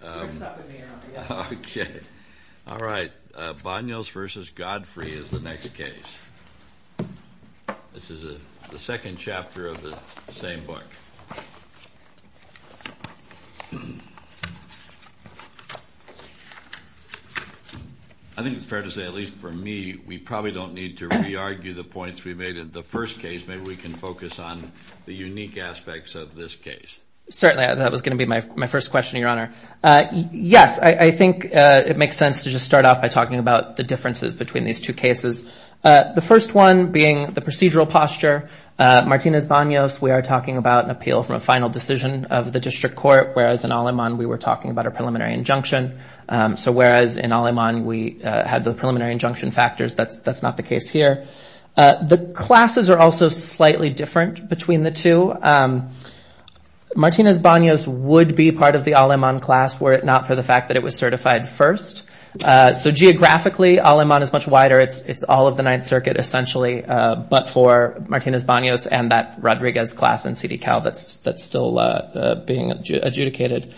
Godfrey v. Banos is the next case. This is the second chapter of the same book. I think it's fair to say, at least for me, we probably don't need to re-argue the points we made in the first case. Maybe we can focus on the unique aspects of this case. Certainly, that was going to be my first question, Your Honor. Yes, I think it makes sense to just start off by talking about the differences between these two cases. The first one being the procedural posture. Martinez Banos, we are talking about an appeal from a final decision of the district court, whereas in Aleman we were talking about a preliminary injunction. So whereas in Aleman we had the preliminary injunction factors, that's not the case here. The classes are also slightly different between the two. Martinez Banos would be part of the Aleman class were it not for the fact that it was certified first. So geographically, Aleman is much wider. It's all of the Ninth Circuit, essentially, but for Martinez Banos and that Rodriguez class in CDCAL that's still being adjudicated.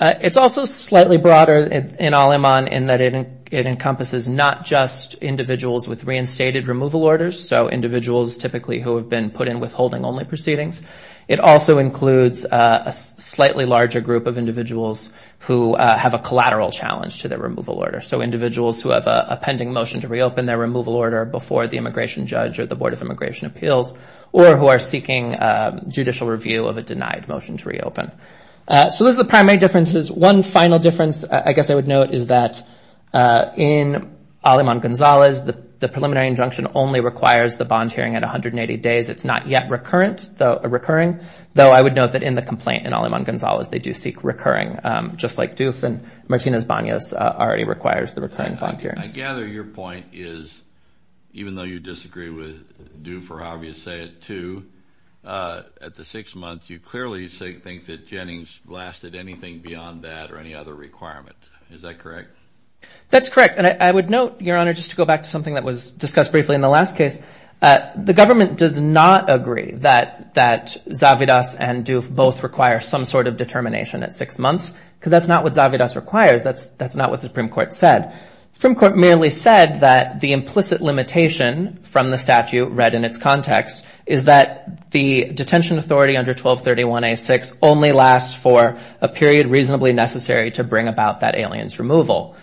It's also slightly broader in Aleman in that it encompasses not just individuals with reinstated removal orders, so individuals typically who have been put in withholding only proceedings. It also includes a slightly larger group of individuals who have a collateral challenge to their removal order. So individuals who have a pending motion to reopen their removal order before the immigration judge or the Board of Immigration Appeals or who are seeking judicial review of a denied motion to reopen. So those are the primary differences. One final difference I guess I would note is that in Aleman-Gonzalez, the preliminary injunction only requires the bond hearing at 180 days. It's not yet recurring, though I would note that in the complaint in Aleman-Gonzalez they do seek recurring, just like Doof and Martinez Banos already requires the recurring bond hearings. I gather your point is, even though you disagree with Doof or however you say it too, at the six months you clearly think that Jennings lasted anything beyond that or any other requirement. Is that correct? That's correct. And I would note, Your Honor, just to go back to something that was discussed briefly in the last case, the government does not agree that Zavidas and Doof both require some sort of determination at six months because that's not what Zavidas requires. That's not what the Supreme Court said. The Supreme Court merely said that the implicit limitation from the statute read in its context is that the detention authority under 1231A6 only lasts for a period reasonably necessary to bring about that alien's removal.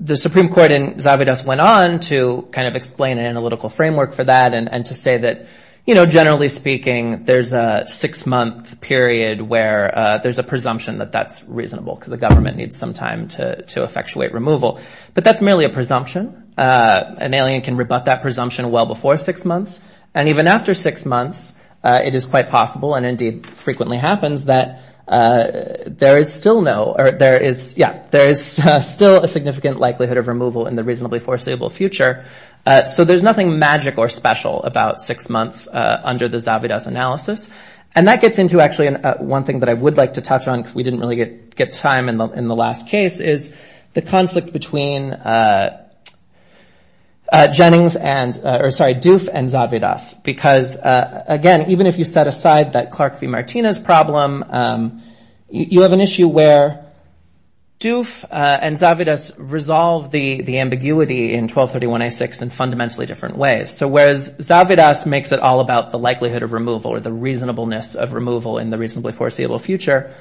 The Supreme Court in Zavidas went on to kind of explain an analytical framework for that and to say that generally speaking there's a six-month period where there's a presumption that that's reasonable because the government needs some time to effectuate removal. But that's merely a presumption. An alien can rebut that presumption well before six months. And even after six months, it is quite possible and indeed frequently happens that there is still no, or there is, yeah, there is still a significant likelihood of removal in the reasonably foreseeable future. So there's nothing magic or special about six months under the Zavidas analysis. And that gets into actually one thing that I would like to touch on because we didn't really get time in the last case is the conflict between Jennings and, or sorry, Doof and Zavidas. Because, again, even if you set aside that Clark v. Martinez problem, you have an issue where Doof and Zavidas resolve the ambiguity in 1231A6 in fundamentally different ways. So whereas Zavidas makes it all about the likelihood of removal or the reasonableness of removal in the reasonably foreseeable future,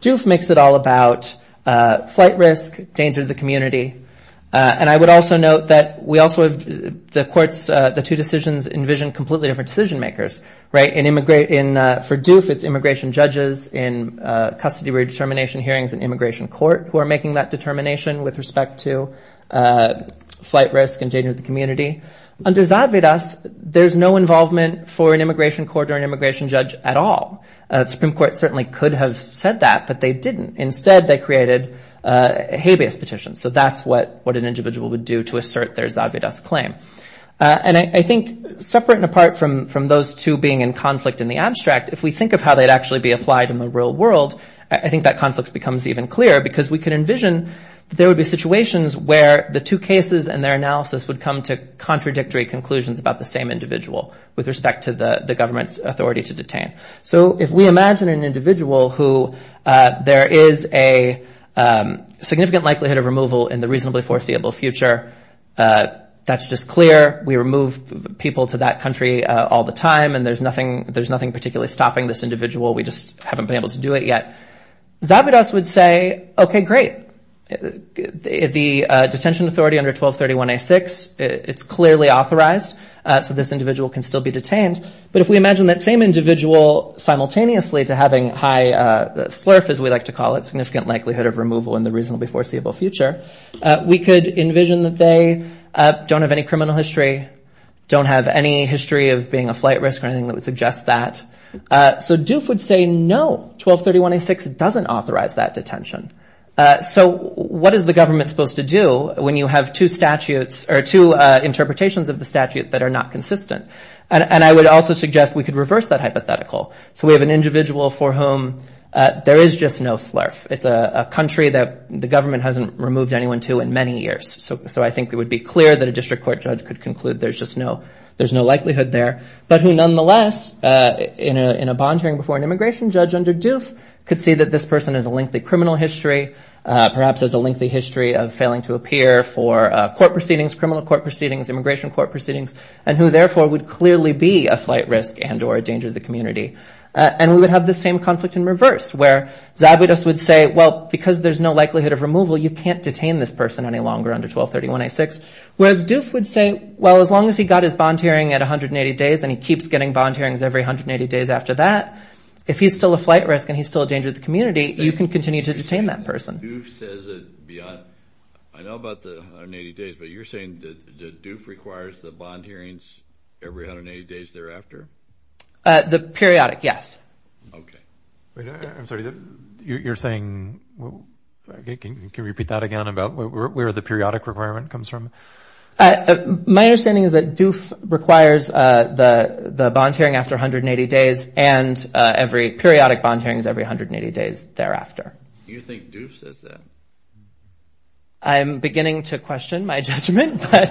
Doof makes it all about flight risk, danger to the community. And I would also note that we also have the courts, the two decisions, envision completely different decision makers, right? And for Doof it's immigration judges in custody redetermination hearings and immigration court who are making that determination with respect to flight risk and danger to the community. Under Zavidas, there's no involvement for an immigration court or an immigration judge at all. The Supreme Court certainly could have said that, but they didn't. Instead, they created a habeas petition. So that's what an individual would do to assert their Zavidas claim. And I think separate and apart from those two being in conflict in the abstract, if we think of how they'd actually be applied in the real world, I think that conflict becomes even clearer because we can envision there would be situations where the two cases and their analysis would come to contradictory conclusions about the same individual with respect to the government's authority to detain. So if we imagine an individual who there is a significant likelihood of removal in the reasonably foreseeable future, that's just clear. We remove people to that country all the time, and there's nothing particularly stopping this individual. We just haven't been able to do it yet. Zavidas would say, okay, great. The detention authority under 1231A6, it's clearly authorized, so this individual can still be detained. But if we imagine that same individual simultaneously to having high slurf, as we like to call it, significant likelihood of removal in the reasonably foreseeable future, we could envision that they don't have any criminal history, don't have any history of being a flight risk or anything that would suggest that. So Doof would say, no, 1231A6 doesn't authorize that detention. So what is the government supposed to do when you have two statutes or two interpretations of the statute that are not consistent? And I would also suggest we could reverse that hypothetical. So we have an individual for whom there is just no slurf. It's a country that the government hasn't removed anyone to in many years. So I think it would be clear that a district court judge could conclude there's just no likelihood there, but who nonetheless in a bond hearing before an immigration judge under Doof could see that this person has a lengthy criminal history, perhaps has a lengthy history of failing to appear for court proceedings, criminal court proceedings, immigration court proceedings, and who therefore would clearly be a flight risk and or a danger to the community. And we would have this same conflict in reverse where Zabudis would say, well, because there's no likelihood of removal, you can't detain this person any longer under 1231A6, whereas Doof would say, well, as long as he got his bond hearing at 180 days and he keeps getting bond hearings every 180 days after that, if he's still a flight risk and he's still a danger to the community, you can continue to detain that person. Doof says it beyond – I know about the 180 days, but you're saying that Doof requires the bond hearings every 180 days thereafter? The periodic, yes. Okay. I'm sorry. You're saying – can you repeat that again about where the periodic requirement comes from? My understanding is that Doof requires the bond hearing after 180 days and every – periodic bond hearings every 180 days thereafter. You think Doof says that? I'm beginning to question my judgment, but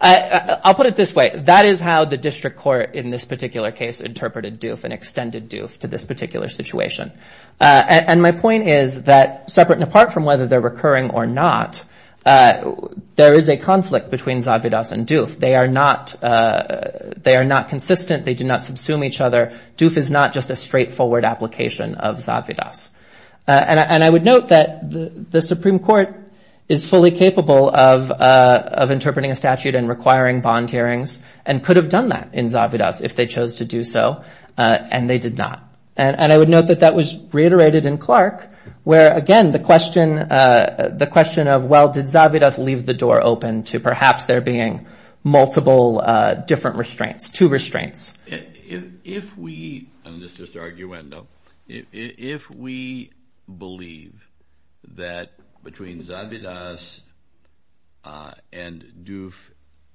I'll put it this way. That is how the district court in this particular case interpreted Doof and extended Doof to this particular situation. And my point is that separate and apart from whether they're recurring or not, there is a conflict between Zadvidas and Doof. They are not consistent. They do not subsume each other. Doof is not just a straightforward application of Zadvidas. And I would note that the Supreme Court is fully capable of interpreting a statute and requiring bond hearings and could have done that in Zadvidas if they chose to do so, and they did not. And I would note that that was reiterated in Clark where, again, the question of, well, did Zadvidas leave the door open to perhaps there being multiple different restraints, two restraints. If we believe that between Zadvidas and Doof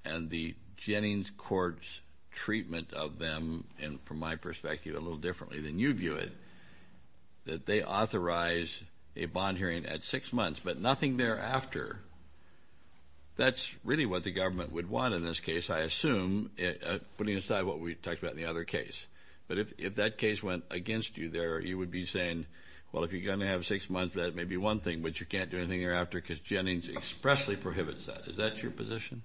and the Jennings court's treatment of them, and from my perspective a little differently than you view it, that they authorize a bond hearing at six months but nothing thereafter, that's really what the government would want in this case, I assume, putting aside what we talked about in the other case. But if that case went against you there, you would be saying, well, if you're going to have six months, that may be one thing, but you can't do anything thereafter because Jennings expressly prohibits that. Is that your position?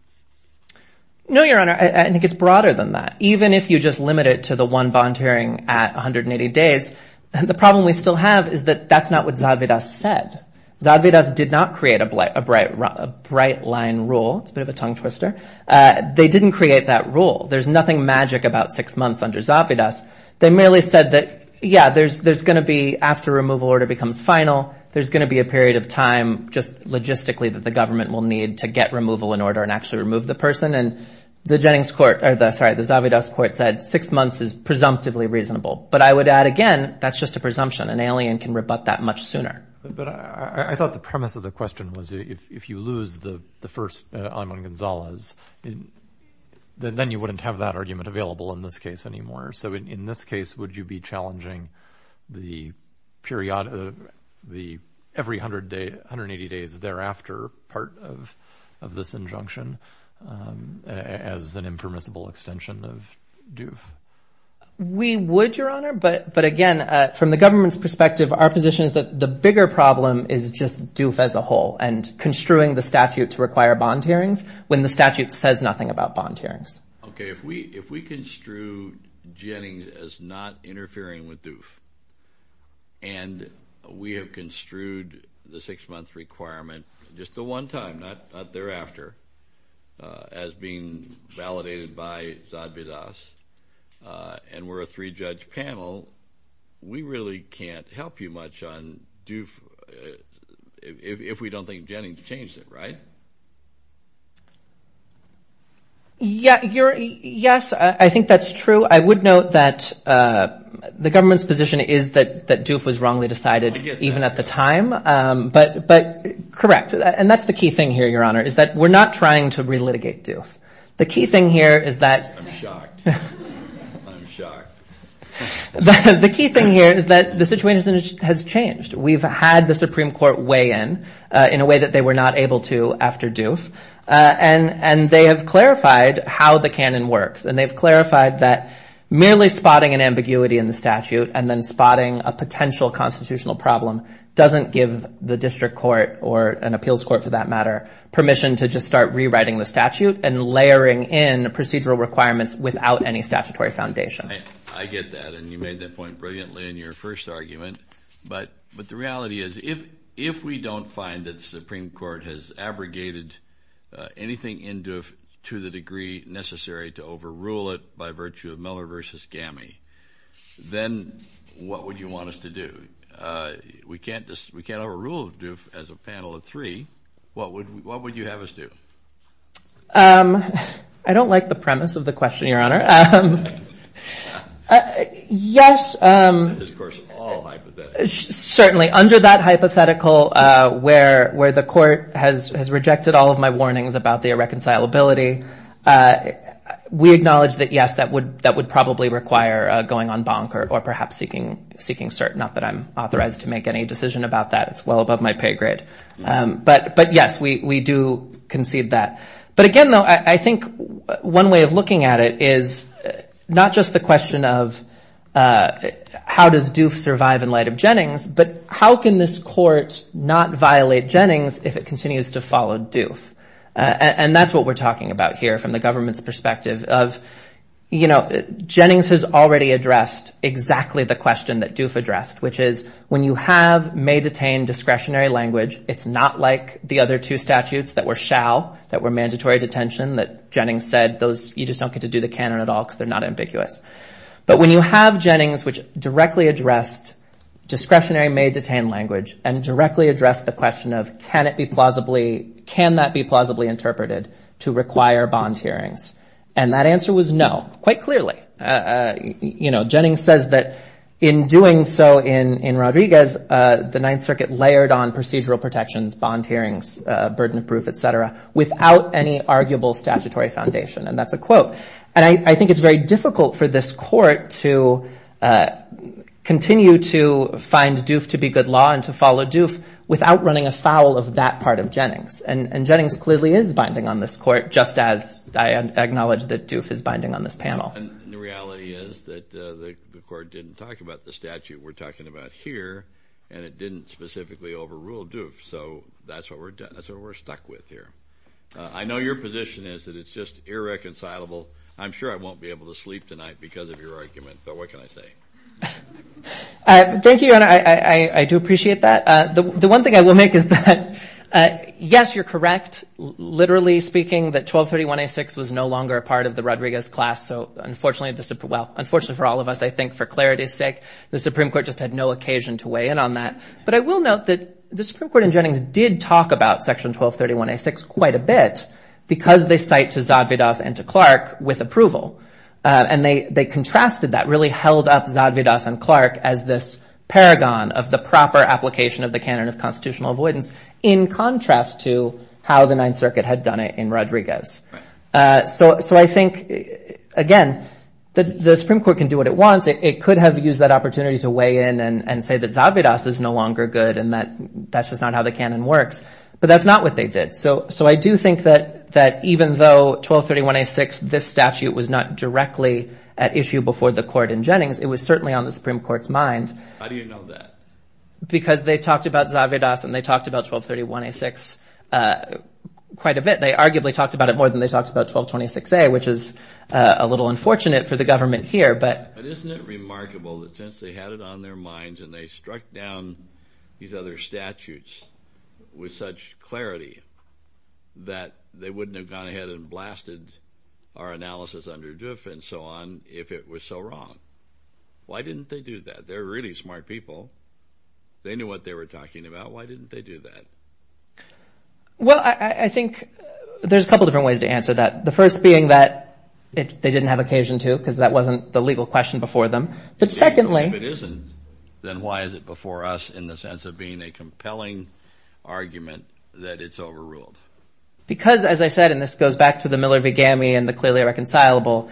No, Your Honor. I think it's broader than that. Even if you just limit it to the one bond hearing at 180 days, the problem we still have is that that's not what Zadvidas said. Zadvidas did not create a bright line rule. It's a bit of a tongue twister. They didn't create that rule. There's nothing magic about six months under Zadvidas. They merely said that, yeah, there's going to be after removal order becomes final, there's going to be a period of time just logistically that the government will need to get removal in order and actually remove the person. And the Zadvidas court said six months is presumptively reasonable. But I would add, again, that's just a presumption. An alien can rebut that much sooner. But I thought the premise of the question was if you lose the first Ayman Gonzalez, then you wouldn't have that argument available in this case anymore. So in this case, would you be challenging the period of the every 180 days thereafter part of this injunction as an impermissible extension of DUF? We would, Your Honor, but, again, from the government's perspective, our position is that the bigger problem is just DUF as a whole and construing the statute to require bond hearings when the statute says nothing about bond hearings. Okay, if we construed Jennings as not interfering with DUF and we have construed the six-month requirement just the one time, not thereafter, as being validated by Zadvidas and we're a three-judge panel, we really can't help you much on DUF if we don't think Jennings changed it, right? Yes, I think that's true. I would note that the government's position is that DUF was wrongly decided even at the time. But correct, and that's the key thing here, Your Honor, is that we're not trying to relitigate DUF. The key thing here is that— I'm shocked. I'm shocked. The key thing here is that the situation has changed. We've had the Supreme Court weigh in in a way that they were not able to after DUF, and they have clarified how the canon works, and they've clarified that merely spotting an ambiguity in the statute and then spotting a potential constitutional problem doesn't give the district court or an appeals court, for that matter, permission to just start rewriting the statute and layering in procedural requirements without any statutory foundation. I get that, and you made that point brilliantly in your first argument. But the reality is if we don't find that the Supreme Court has abrogated anything in DUF to the degree necessary to overrule it by virtue of Miller v. Gammey, then what would you want us to do? We can't overrule DUF as a panel of three. What would you have us do? I don't like the premise of the question, Your Honor. This is, of course, all hypothetical. Certainly. Under that hypothetical where the court has rejected all of my warnings about the irreconcilability, we acknowledge that, yes, that would probably require going on bonk or perhaps seeking cert, not that I'm authorized to make any decision about that. That's well above my pay grade. But, yes, we do concede that. But again, though, I think one way of looking at it is not just the question of how does DUF survive in light of Jennings, but how can this court not violate Jennings if it continues to follow DUF? And that's what we're talking about here from the government's perspective of, you know, Jennings has already addressed exactly the question that DUF addressed, which is when you have may-detain discretionary language, it's not like the other two statutes that were shall, that were mandatory detention, that Jennings said you just don't get to do the canon at all because they're not ambiguous. But when you have Jennings, which directly addressed discretionary may-detain language and directly addressed the question of can that be plausibly interpreted to require bond hearings? And that answer was no, quite clearly. You know, Jennings says that in doing so in Rodriguez, the Ninth Circuit layered on procedural protections, bond hearings, burden of proof, et cetera, without any arguable statutory foundation, and that's a quote. And I think it's very difficult for this court to continue to find DUF to be good law and to follow DUF without running afoul of that part of Jennings. And Jennings clearly is binding on this court, just as I acknowledge that DUF is binding on this panel. And the reality is that the court didn't talk about the statute we're talking about here, and it didn't specifically overrule DUF. So that's what we're stuck with here. I know your position is that it's just irreconcilable. I'm sure I won't be able to sleep tonight because of your argument, but what can I say? Thank you, Your Honor. I do appreciate that. The one thing I will make is that, yes, you're correct, literally speaking, that 1231A6 was no longer a part of the Rodriguez class. So unfortunately for all of us, I think, for clarity's sake, the Supreme Court just had no occasion to weigh in on that. But I will note that the Supreme Court in Jennings did talk about Section 1231A6 quite a bit because they cite to Zadvydas and to Clark with approval. And they contrasted that, really held up Zadvydas and Clark as this paragon of the proper application of the canon of constitutional avoidance in contrast to how the Ninth Circuit had done it in Rodriguez. So I think, again, the Supreme Court can do what it wants. It could have used that opportunity to weigh in and say that Zadvydas is no longer good and that's just not how the canon works. But that's not what they did. So I do think that even though 1231A6, this statute, was not directly at issue before the court in Jennings, it was certainly on the Supreme Court's mind. How do you know that? Because they talked about Zadvydas and they talked about 1231A6 quite a bit. They arguably talked about it more than they talked about 1226A, which is a little unfortunate for the government here. But isn't it remarkable that since they had it on their minds and they struck down these other statutes with such clarity that they wouldn't have gone ahead and blasted our analysis under Duff and so on if it was so wrong? Why didn't they do that? They're really smart people. They knew what they were talking about. Why didn't they do that? Well, I think there's a couple different ways to answer that, the first being that they didn't have occasion to because that wasn't the legal question before them. But secondly— If it isn't, then why is it before us in the sense of being a compelling argument that it's overruled? Because, as I said, and this goes back to the Miller v. Gammey and the clearly irreconcilable,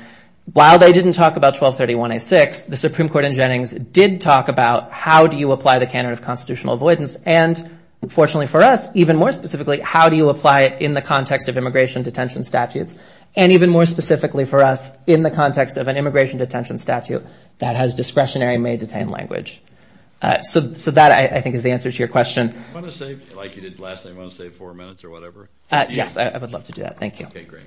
while they didn't talk about 1231A6, the Supreme Court in Jennings did talk about how do you apply the candidate of constitutional avoidance? And fortunately for us, even more specifically, how do you apply it in the context of immigration detention statutes? And even more specifically for us, in the context of an immigration detention statute that has discretionary may-detain language. So that, I think, is the answer to your question. Do you want to save, like you did last night, do you want to save four minutes or whatever? Yes, I would love to do that. Thank you. Okay, great.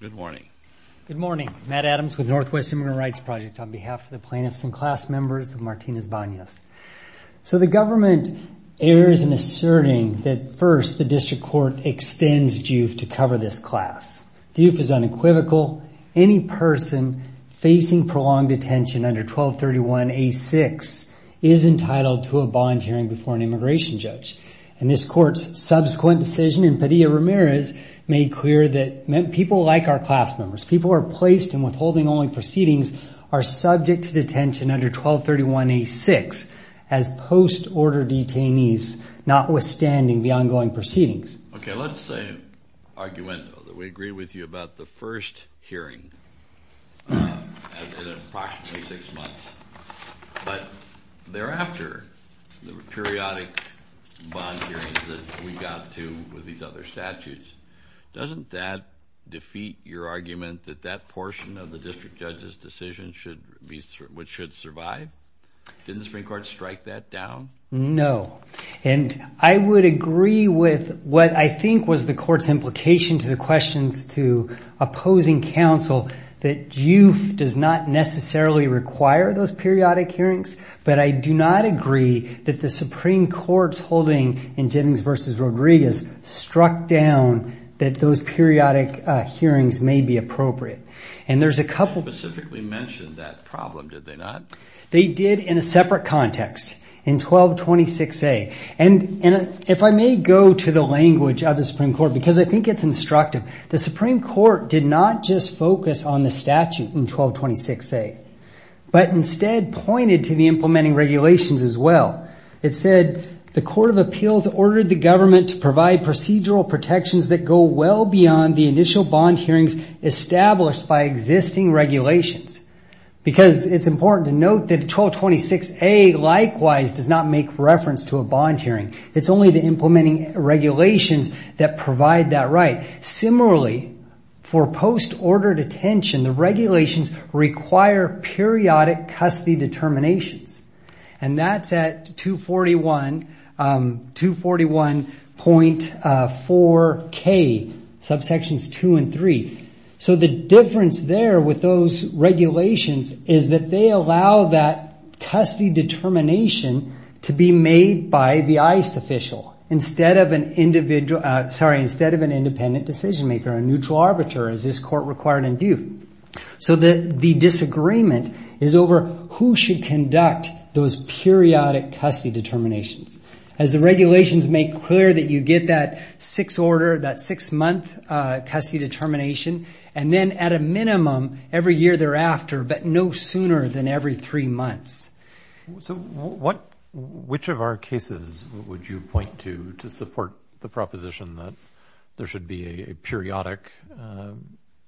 Good morning. Good morning. Matt Adams with Northwest Immigrant Rights Project, on behalf of the plaintiffs and class members of Martinez-Banez. So the government errs in asserting that, first, the district court extends DUF to cover this class. DUF is unequivocal. Any person facing prolonged detention under 1231A6 is entitled to a bond hearing before an immigration judge. And this court's subsequent decision in Padilla-Ramirez made clear that people like our class members, people who are placed in withholding-only proceedings, are subject to detention under 1231A6 as post-order detainees, notwithstanding the ongoing proceedings. Okay, let's say, arguendo, that we agree with you about the first hearing in approximately six months. But thereafter, the periodic bond hearings that we got to with these other statutes, doesn't that defeat your argument that that portion of the district judge's decision should survive? Didn't the Supreme Court strike that down? No. And I would agree with what I think was the court's implication to the questions to opposing counsel, that DUF does not necessarily require those periodic hearings, but I do not agree that the Supreme Court's holding in Jennings v. Rodriguez struck down that those periodic hearings may be appropriate. And there's a couple... They didn't specifically mention that problem, did they not? They did in a separate context. In 1226A. And if I may go to the language of the Supreme Court, because I think it's instructive, the Supreme Court did not just focus on the statute in 1226A, but instead pointed to the implementing regulations as well. It said, the Court of Appeals ordered the government to provide procedural protections that go well beyond the initial bond hearings established by existing regulations. Because it's important to note that 1226A, likewise, does not make reference to a bond hearing. It's only the implementing regulations that provide that right. Similarly, for post-ordered attention, the regulations require periodic custody determinations. And that's at 241.4k, subsections 2 and 3. So the difference there with those regulations is that they allow that custody determination to be made by the ICE official instead of an independent decision maker, a neutral arbiter, as this court required in Duke. So the disagreement is over who should conduct those periodic custody determinations. As the regulations make clear that you get that six-month custody determination, and then at a minimum every year thereafter, but no sooner than every three months. So which of our cases would you point to to support the proposition that there should be a periodic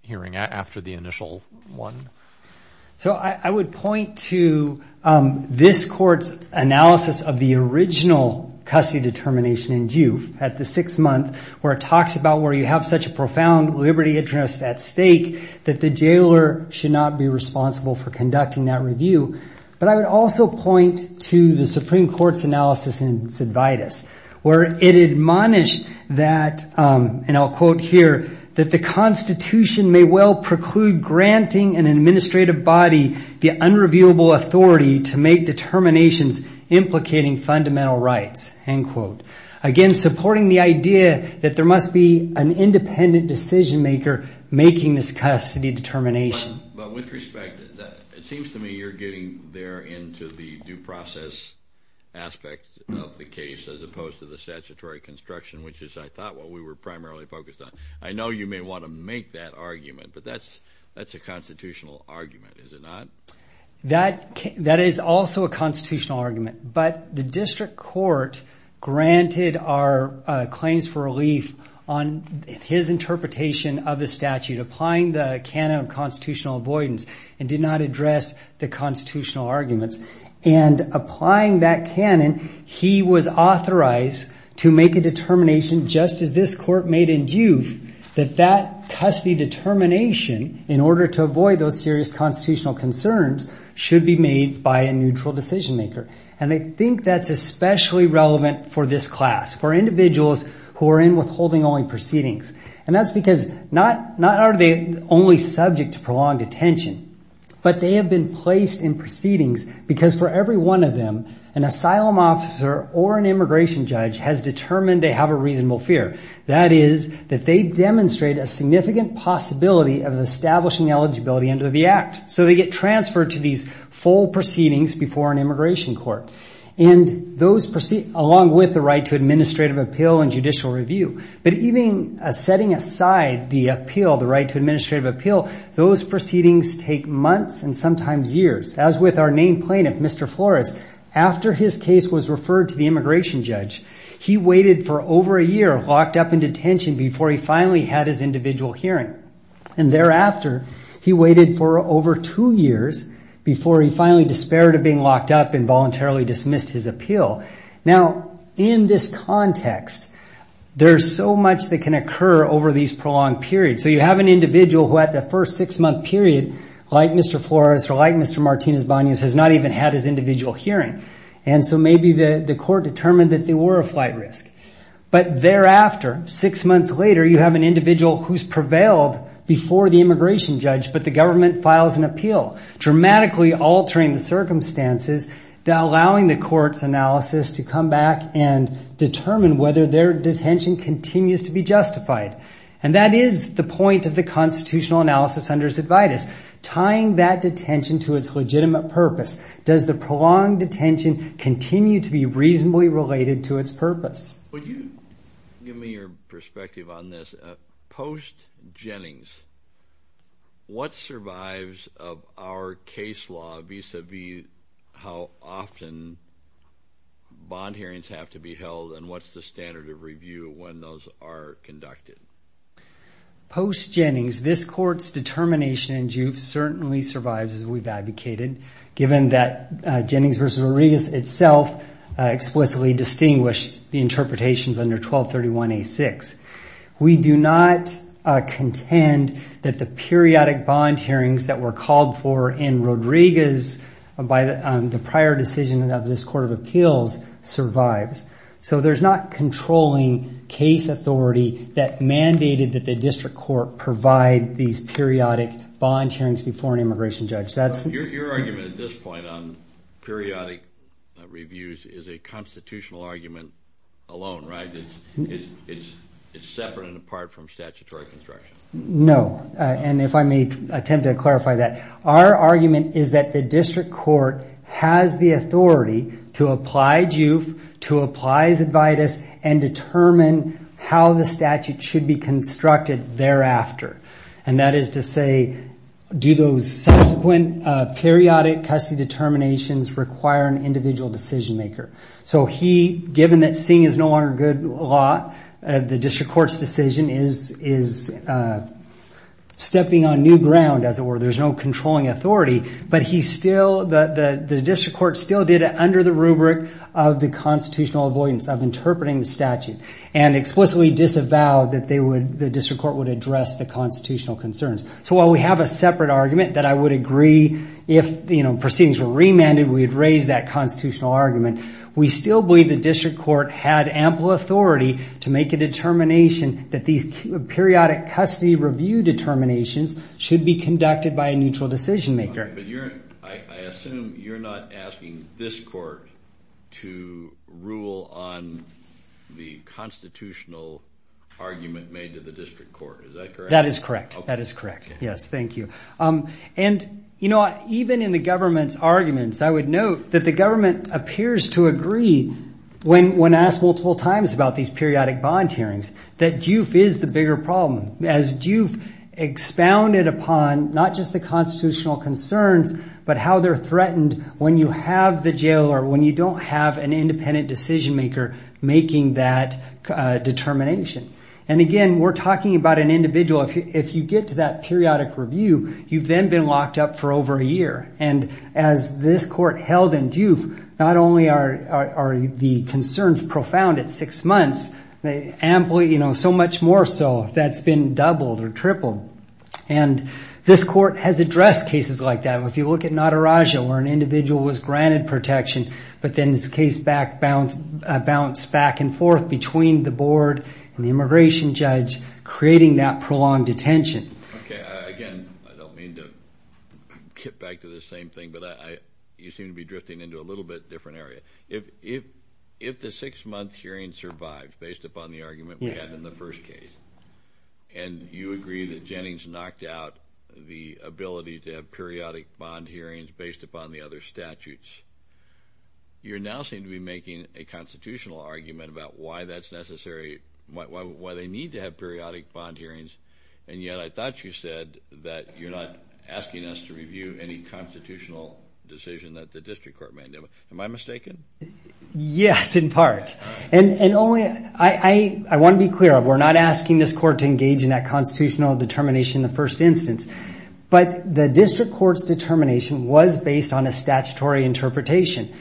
hearing after the initial one? So I would point to this court's analysis of the original custody determination in Duke at the sixth month where it talks about where you have such a profound liberty interest at stake that the jailer should not be responsible for conducting that review. But I would also point to the Supreme Court's analysis in Sidvitus where it admonished that, and I'll quote here, that the Constitution may well preclude granting an administrative body the unreviewable authority to make determinations implicating fundamental rights, end quote. Again, supporting the idea that there must be an independent decision maker making this custody determination. But with respect, it seems to me you're getting there into the due process aspect of the case as opposed to the statutory construction, which is, I thought, what we were primarily focused on. I know you may want to make that argument, but that's a constitutional argument, is it not? That is also a constitutional argument. But the district court granted our claims for relief on his interpretation of the statute, applying the canon of constitutional avoidance, and did not address the constitutional arguments. And applying that canon, he was authorized to make a determination, just as this court made in Duke, that that custody determination, in order to avoid those serious constitutional concerns, should be made by a neutral decision maker. And I think that's especially relevant for this class, for individuals who are in withholding only proceedings. And that's because not only are they subject to prolonged detention, but they have been placed in proceedings because for every one of them, an asylum officer or an immigration judge has determined they have a reasonable fear. That is that they demonstrate a significant possibility of establishing eligibility under the Act. So they get transferred to these full proceedings before an immigration court. And those proceedings, along with the right to administrative appeal and judicial review, but even setting aside the appeal, the right to administrative appeal, those proceedings take months and sometimes years. As with our named plaintiff, Mr. Flores, after his case was referred to the immigration judge, he waited for over a year locked up in detention before he finally had his individual hearing. And thereafter, he waited for over two years before he finally despaired of being locked up and voluntarily dismissed his appeal. Now, in this context, there's so much that can occur over these prolonged periods. So you have an individual who at the first six-month period, like Mr. Flores or like Mr. Martinez-Banias, has not even had his individual hearing. And so maybe the court determined that they were a flight risk. But thereafter, six months later, you have an individual who's prevailed before the immigration judge, but the government files an appeal, dramatically altering the circumstances, allowing the court's analysis to come back and determine whether their detention continues to be justified. And that is the point of the constitutional analysis under Cidvitas, tying that detention to its legitimate purpose. Does the prolonged detention continue to be reasonably related to its purpose? Would you give me your perspective on this? Post Jennings, what survives of our case law vis-à-vis how often bond hearings have to be held and what's the standard of review when those are conducted? Post Jennings, this court's determination certainly survives as we've advocated, given that Jennings v. Rodriguez itself explicitly distinguished the interpretations under 1231A6. We do not contend that the periodic bond hearings that were called for in Rodriguez by the prior decision of this Court of Appeals survives. So there's not controlling case authority that mandated that the district court provide these periodic bond hearings before an immigration judge. Your argument at this point on periodic reviews is a constitutional argument alone, right? It's separate and apart from statutory construction. No. And if I may attempt to clarify that, our argument is that the district court has the authority to apply JUIF, to apply Cidvitas, and determine how the statute should be constructed thereafter. And that is to say, do those subsequent periodic custody determinations require an individual decision maker? So given that seeing is no longer good law, the district court's decision is stepping on new ground, as it were. There's no controlling authority, but the district court still did it under the rubric of the constitutional avoidance, of interpreting the statute, and explicitly disavowed that the district court would address the constitutional concerns. So while we have a separate argument that I would agree if proceedings were remanded, we'd raise that constitutional argument, we still believe the district court had ample authority to make a determination that these periodic custody review determinations should be conducted by a neutral decision maker. But I assume you're not asking this court to rule on the constitutional argument made to the district court. Is that correct? That is correct. That is correct. Yes, thank you. And even in the government's arguments, I would note that the government appears to agree when asked multiple times about these periodic bond hearings, that DUF is the bigger problem. As DUF expounded upon not just the constitutional concerns, but how they're threatened when you have the jailer, when you don't have an independent decision maker making that determination. And again, we're talking about an individual. If you get to that periodic review, you've then been locked up for over a year. And as this court held in DUF, not only are the concerns profound at six months, they amply, you know, so much more so that's been doubled or tripled. And this court has addressed cases like that. If you look at Nataraja, where an individual was granted protection, but then this case bounced back and forth between the board and the immigration judge, creating that prolonged detention. Okay. Again, I don't mean to get back to the same thing, but you seem to be drifting into a little bit different area. If the six-month hearing survived, based upon the argument we had in the first case, and you agree that Jennings knocked out the ability to have periodic bond hearings based upon the other statutes, you now seem to be making a constitutional argument about why that's necessary, why they need to have periodic bond hearings, and yet I thought you said that you're not asking us to review any constitutional decision that the district court made. Am I mistaken? Yes, in part. And only, I want to be clear, we're not asking this court to engage in that constitutional determination in the first instance, but the district court's determination was based on a statutory interpretation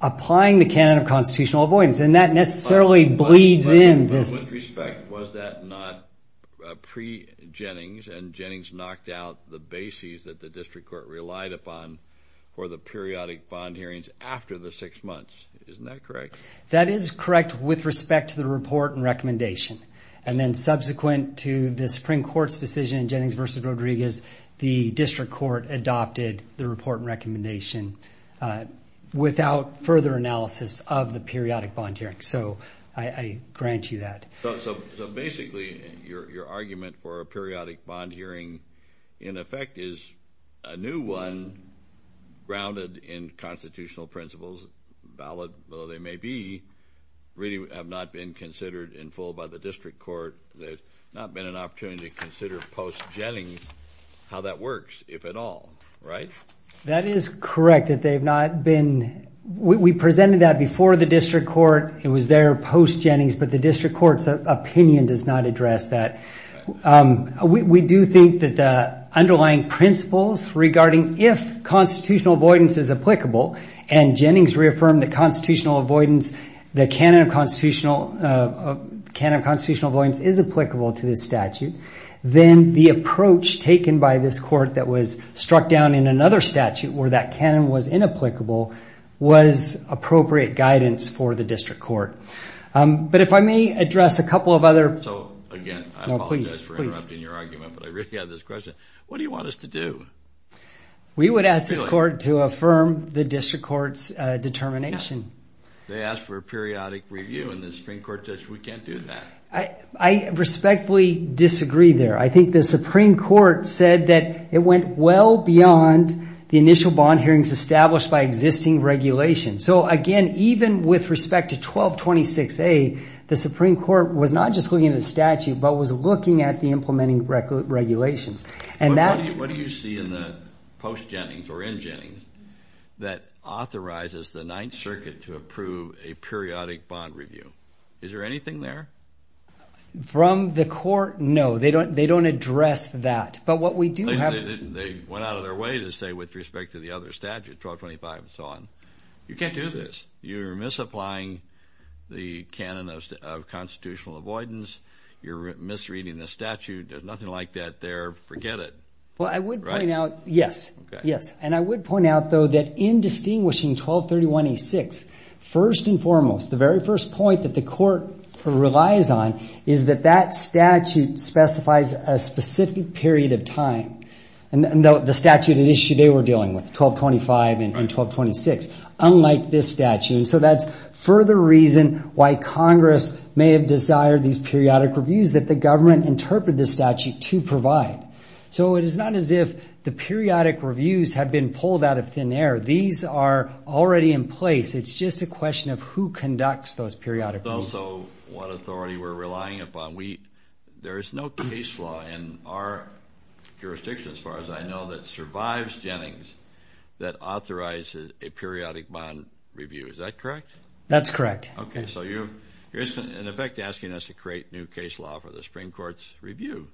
applying the canon of constitutional avoidance, and that necessarily bleeds in this. With respect, was that not pre-Jennings, and Jennings knocked out the bases that the district court relied upon for the periodic bond hearings after the six months? Isn't that correct? That is correct with respect to the report and recommendation, and then subsequent to the Supreme Court's decision in Jennings v. Rodriguez, the district court adopted the report and recommendation without further analysis of the periodic bond hearings, so I grant you that. So basically, your argument for a periodic bond hearing, in effect, is a new one grounded in constitutional principles, valid though they may be, really have not been considered in full by the district court. There's not been an opportunity to consider post-Jennings how that works, if at all, right? That is correct that they have not been. We presented that before the district court. It was there post-Jennings, but the district court's opinion does not address that. We do think that the underlying principles regarding if constitutional avoidance is applicable, and Jennings reaffirmed the constitutional avoidance, the canon of constitutional avoidance is applicable to this statute, then the approach taken by this court that was struck down in another statute where that canon was inapplicable was appropriate guidance for the district court. But if I may address a couple of other... Again, I apologize for interrupting your argument, but I really have this question. What do you want us to do? We would ask this court to affirm the district court's determination. They asked for a periodic review, and the Supreme Court says we can't do that. I respectfully disagree there. I think the Supreme Court said that it went well beyond the initial bond hearings established by existing regulations. Again, even with respect to 1226A, the Supreme Court was not just looking at the statute, but was looking at the implementing regulations. What do you see in the post-Jennings or in Jennings that authorizes the Ninth Circuit to approve a periodic bond review? Is there anything there? From the court, no. They don't address that. They went out of their way to say with respect to the other statute, 1225 and so on, you can't do this. You're misapplying the canon of constitutional avoidance. You're misreading the statute. There's nothing like that there. Forget it. Well, I would point out, yes, yes. And I would point out, though, that in distinguishing 1231A-6, first and foremost, the very first point that the court relies on is that that statute specifies a specific period of time, and the statute at issue they were dealing with, 1225 and 1226. Unlike this statute. So that's further reason why Congress may have desired these periodic reviews that the government interpreted the statute to provide. So it is not as if the periodic reviews have been pulled out of thin air. These are already in place. It's just a question of who conducts those periodic reviews. It's also what authority we're relying upon. There is no case law in our jurisdiction, as far as I know, that survives Jennings that authorizes a periodic bond review. Is that correct? That's correct. Okay, so you're, in effect, asking us to create new case law for the Supreme Court's review,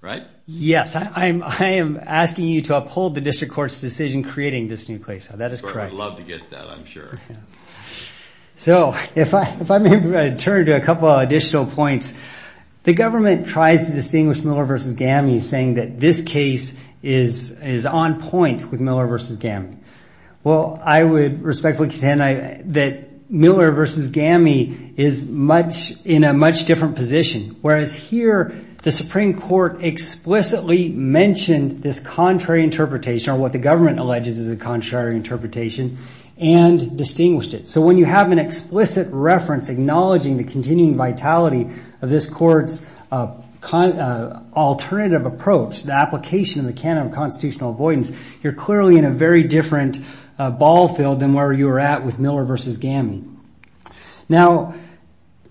right? Yes, I am asking you to uphold the district court's decision creating this new case law. That is correct. I would love to get that, I'm sure. So if I may turn to a couple of additional points, the government tries to distinguish Miller v. Gammie saying that this case is on point with Miller v. Gammie. Well, I would respectfully contend that Miller v. Gammie is in a much different position, whereas here the Supreme Court explicitly mentioned this contrary interpretation, or what the government alleges is a contrary interpretation, and distinguished it. So when you have an explicit reference acknowledging the continuing vitality of this court's alternative approach, the application of the canon of constitutional avoidance, you're clearly in a very different ball field than where you were at with Miller v. Gammie. Now,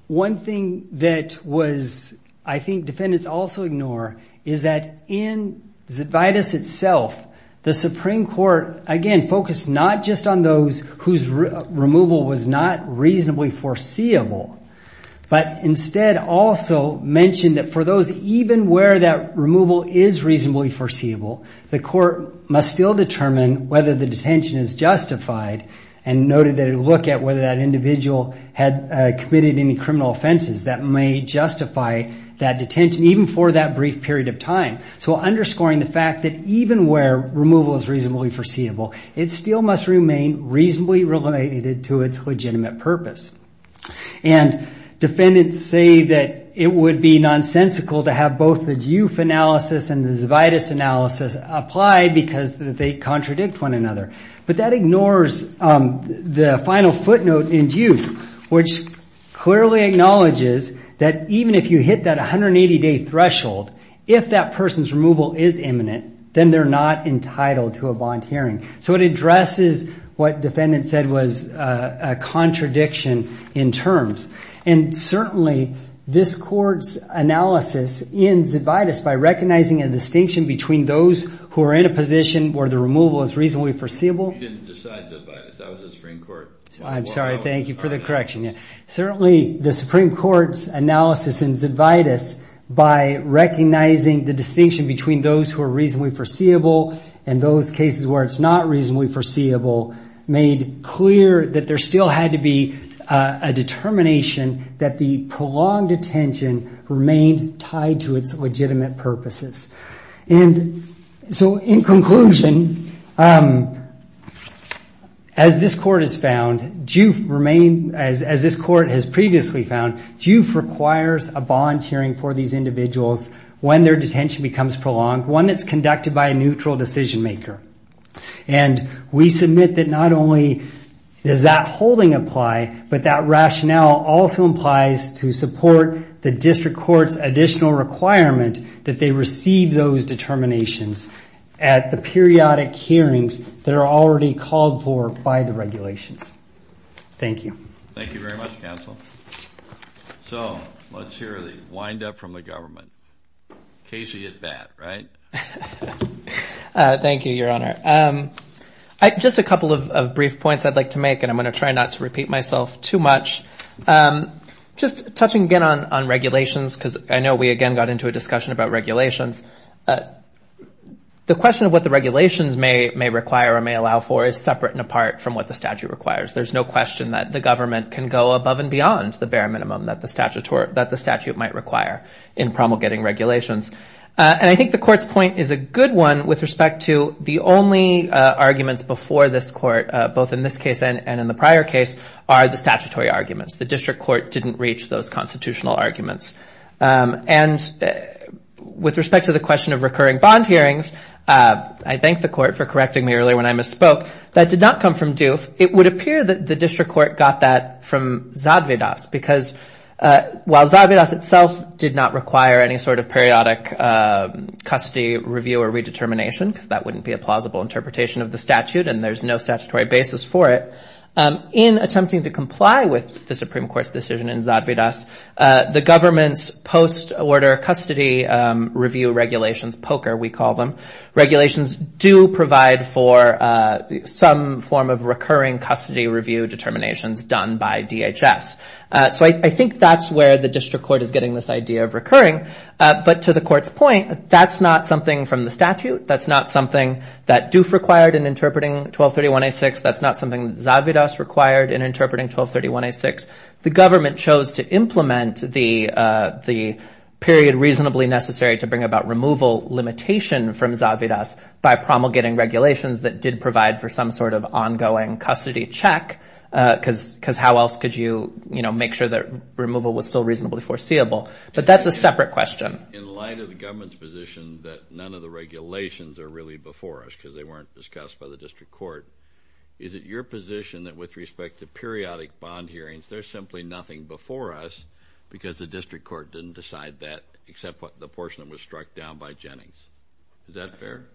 one thing that was, I think, defendants also ignore is that in Zebaitis itself, the Supreme Court, again, focused not just on those whose removal was not reasonably foreseeable, but instead also mentioned that for those even where that removal is reasonably foreseeable, the court must still determine whether the detention is justified and noted that it would look at whether that individual had committed any criminal offenses that may justify that detention, even for that brief period of time. So underscoring the fact that even where removal is reasonably foreseeable, it still must remain reasonably related to its legitimate purpose. And defendants say that it would be nonsensical to have both the Duke analysis and the Zebaitis analysis apply because they contradict one another. But that ignores the final footnote in Duke, which clearly acknowledges that even if you hit that 180-day threshold, if that person's removal is imminent, then they're not entitled to a bond hearing. So it addresses what defendants said was a contradiction in terms. And certainly this court's analysis in Zebaitis, by recognizing a distinction between those who are in a position where the removal is reasonably foreseeable... You didn't decide Zebaitis. That was the Supreme Court. I'm sorry. Thank you for the correction. Certainly the Supreme Court's analysis in Zebaitis by recognizing the distinction between those who are reasonably foreseeable and those cases where it's not reasonably foreseeable made clear that there still had to be a determination that the prolonged detention remained tied to its legitimate purposes. And so in conclusion, as this court has previously found, juve requires a bond hearing for these individuals when their detention becomes prolonged, one that's conducted by a neutral decision maker. And we submit that not only does that holding apply, but that rationale also implies to support the district court's additional requirement that they receive those determinations at the periodic hearings that are already called for by the regulations. Thank you. Thank you very much, counsel. So let's hear the wind-up from the government. Keisha, you're bad, right? Thank you, Your Honor. Just a couple of brief points I'd like to make, and I'm going to try not to repeat myself too much. Just touching again on regulations, because I know we again got into a discussion about regulations. The question of what the regulations may require or may allow for is separate and apart from what the statute requires. There's no question that the government can go above and beyond the bare minimum that the statute might require in promulgating regulations. And I think the court's point is a good one with respect to the only arguments before this court, both in this case and in the prior case, are the statutory arguments. The district court didn't reach those constitutional arguments. And with respect to the question of recurring bond hearings, I thank the court for correcting me earlier when I misspoke. That did not come from Duke. It would appear that the district court got that from Zadvydas, because while Zadvydas itself did not require any sort of periodic custody review or redetermination, because that wouldn't be a plausible interpretation of the statute and there's no statutory basis for it, in attempting to comply with the Supreme Court's decision in Zadvydas, the government's post-order custody review regulations, POCR we call them, regulations do provide for some form of recurring custody review determinations done by DHS. So I think that's where the district court is getting this idea of recurring. But to the court's point, that's not something from the statute. That's not something that Duke required in interpreting 1231A6. That's not something that Zadvydas required in interpreting 1231A6. The government chose to implement the period reasonably necessary to bring about removal limitation from Zadvydas by promulgating regulations that did provide for some sort of ongoing custody check, because how else could you make sure that removal was still reasonably foreseeable? But that's a separate question. In light of the government's position that none of the regulations are really before us because they weren't discussed by the district court, is it your position that with respect to periodic bond hearings, there's simply nothing before us because the district court didn't decide that except the portion that was struck down by Jennings? Is that fair?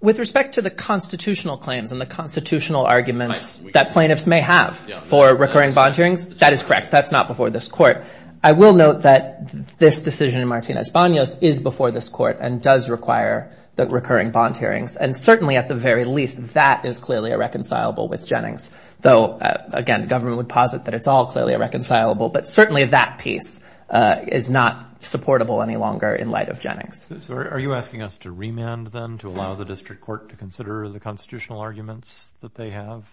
With respect to the constitutional claims and the constitutional arguments that plaintiffs may have for recurring bond hearings, that is correct. That's not before this court. I will note that this decision in Martinez-Banos is before this court and does require the recurring bond hearings. And certainly at the very least, that is clearly irreconcilable with Jennings, though, again, the government would posit that it's all clearly irreconcilable. But certainly that piece is not supportable any longer in light of Jennings. So are you asking us to remand them to allow the district court to consider the constitutional arguments that they have?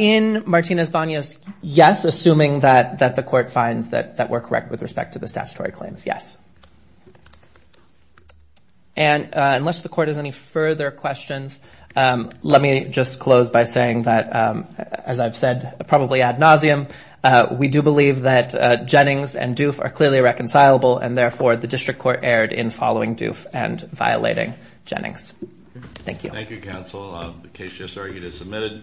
In Martinez-Banos, yes, assuming that the court finds that we're correct with respect to the statutory claims, yes. And unless the court has any further questions, let me just close by saying that, as I've said probably ad nauseum, we do believe that Jennings and Doof are clearly reconcilable, and therefore the district court erred in following Doof and violating Jennings. Thank you. Thank you, counsel. The case just argued is submitted.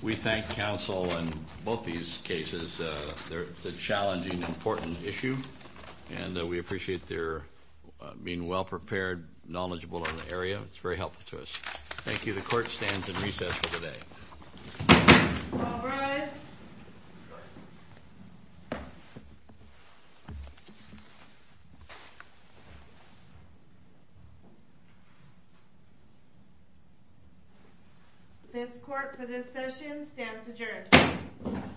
We thank counsel on both these cases. They're a challenging, important issue, and we appreciate their being well-prepared, knowledgeable on the area. It's very helpful to us. Thank you. The court stands in recess for the day. All rise. This court for this session stands adjourned.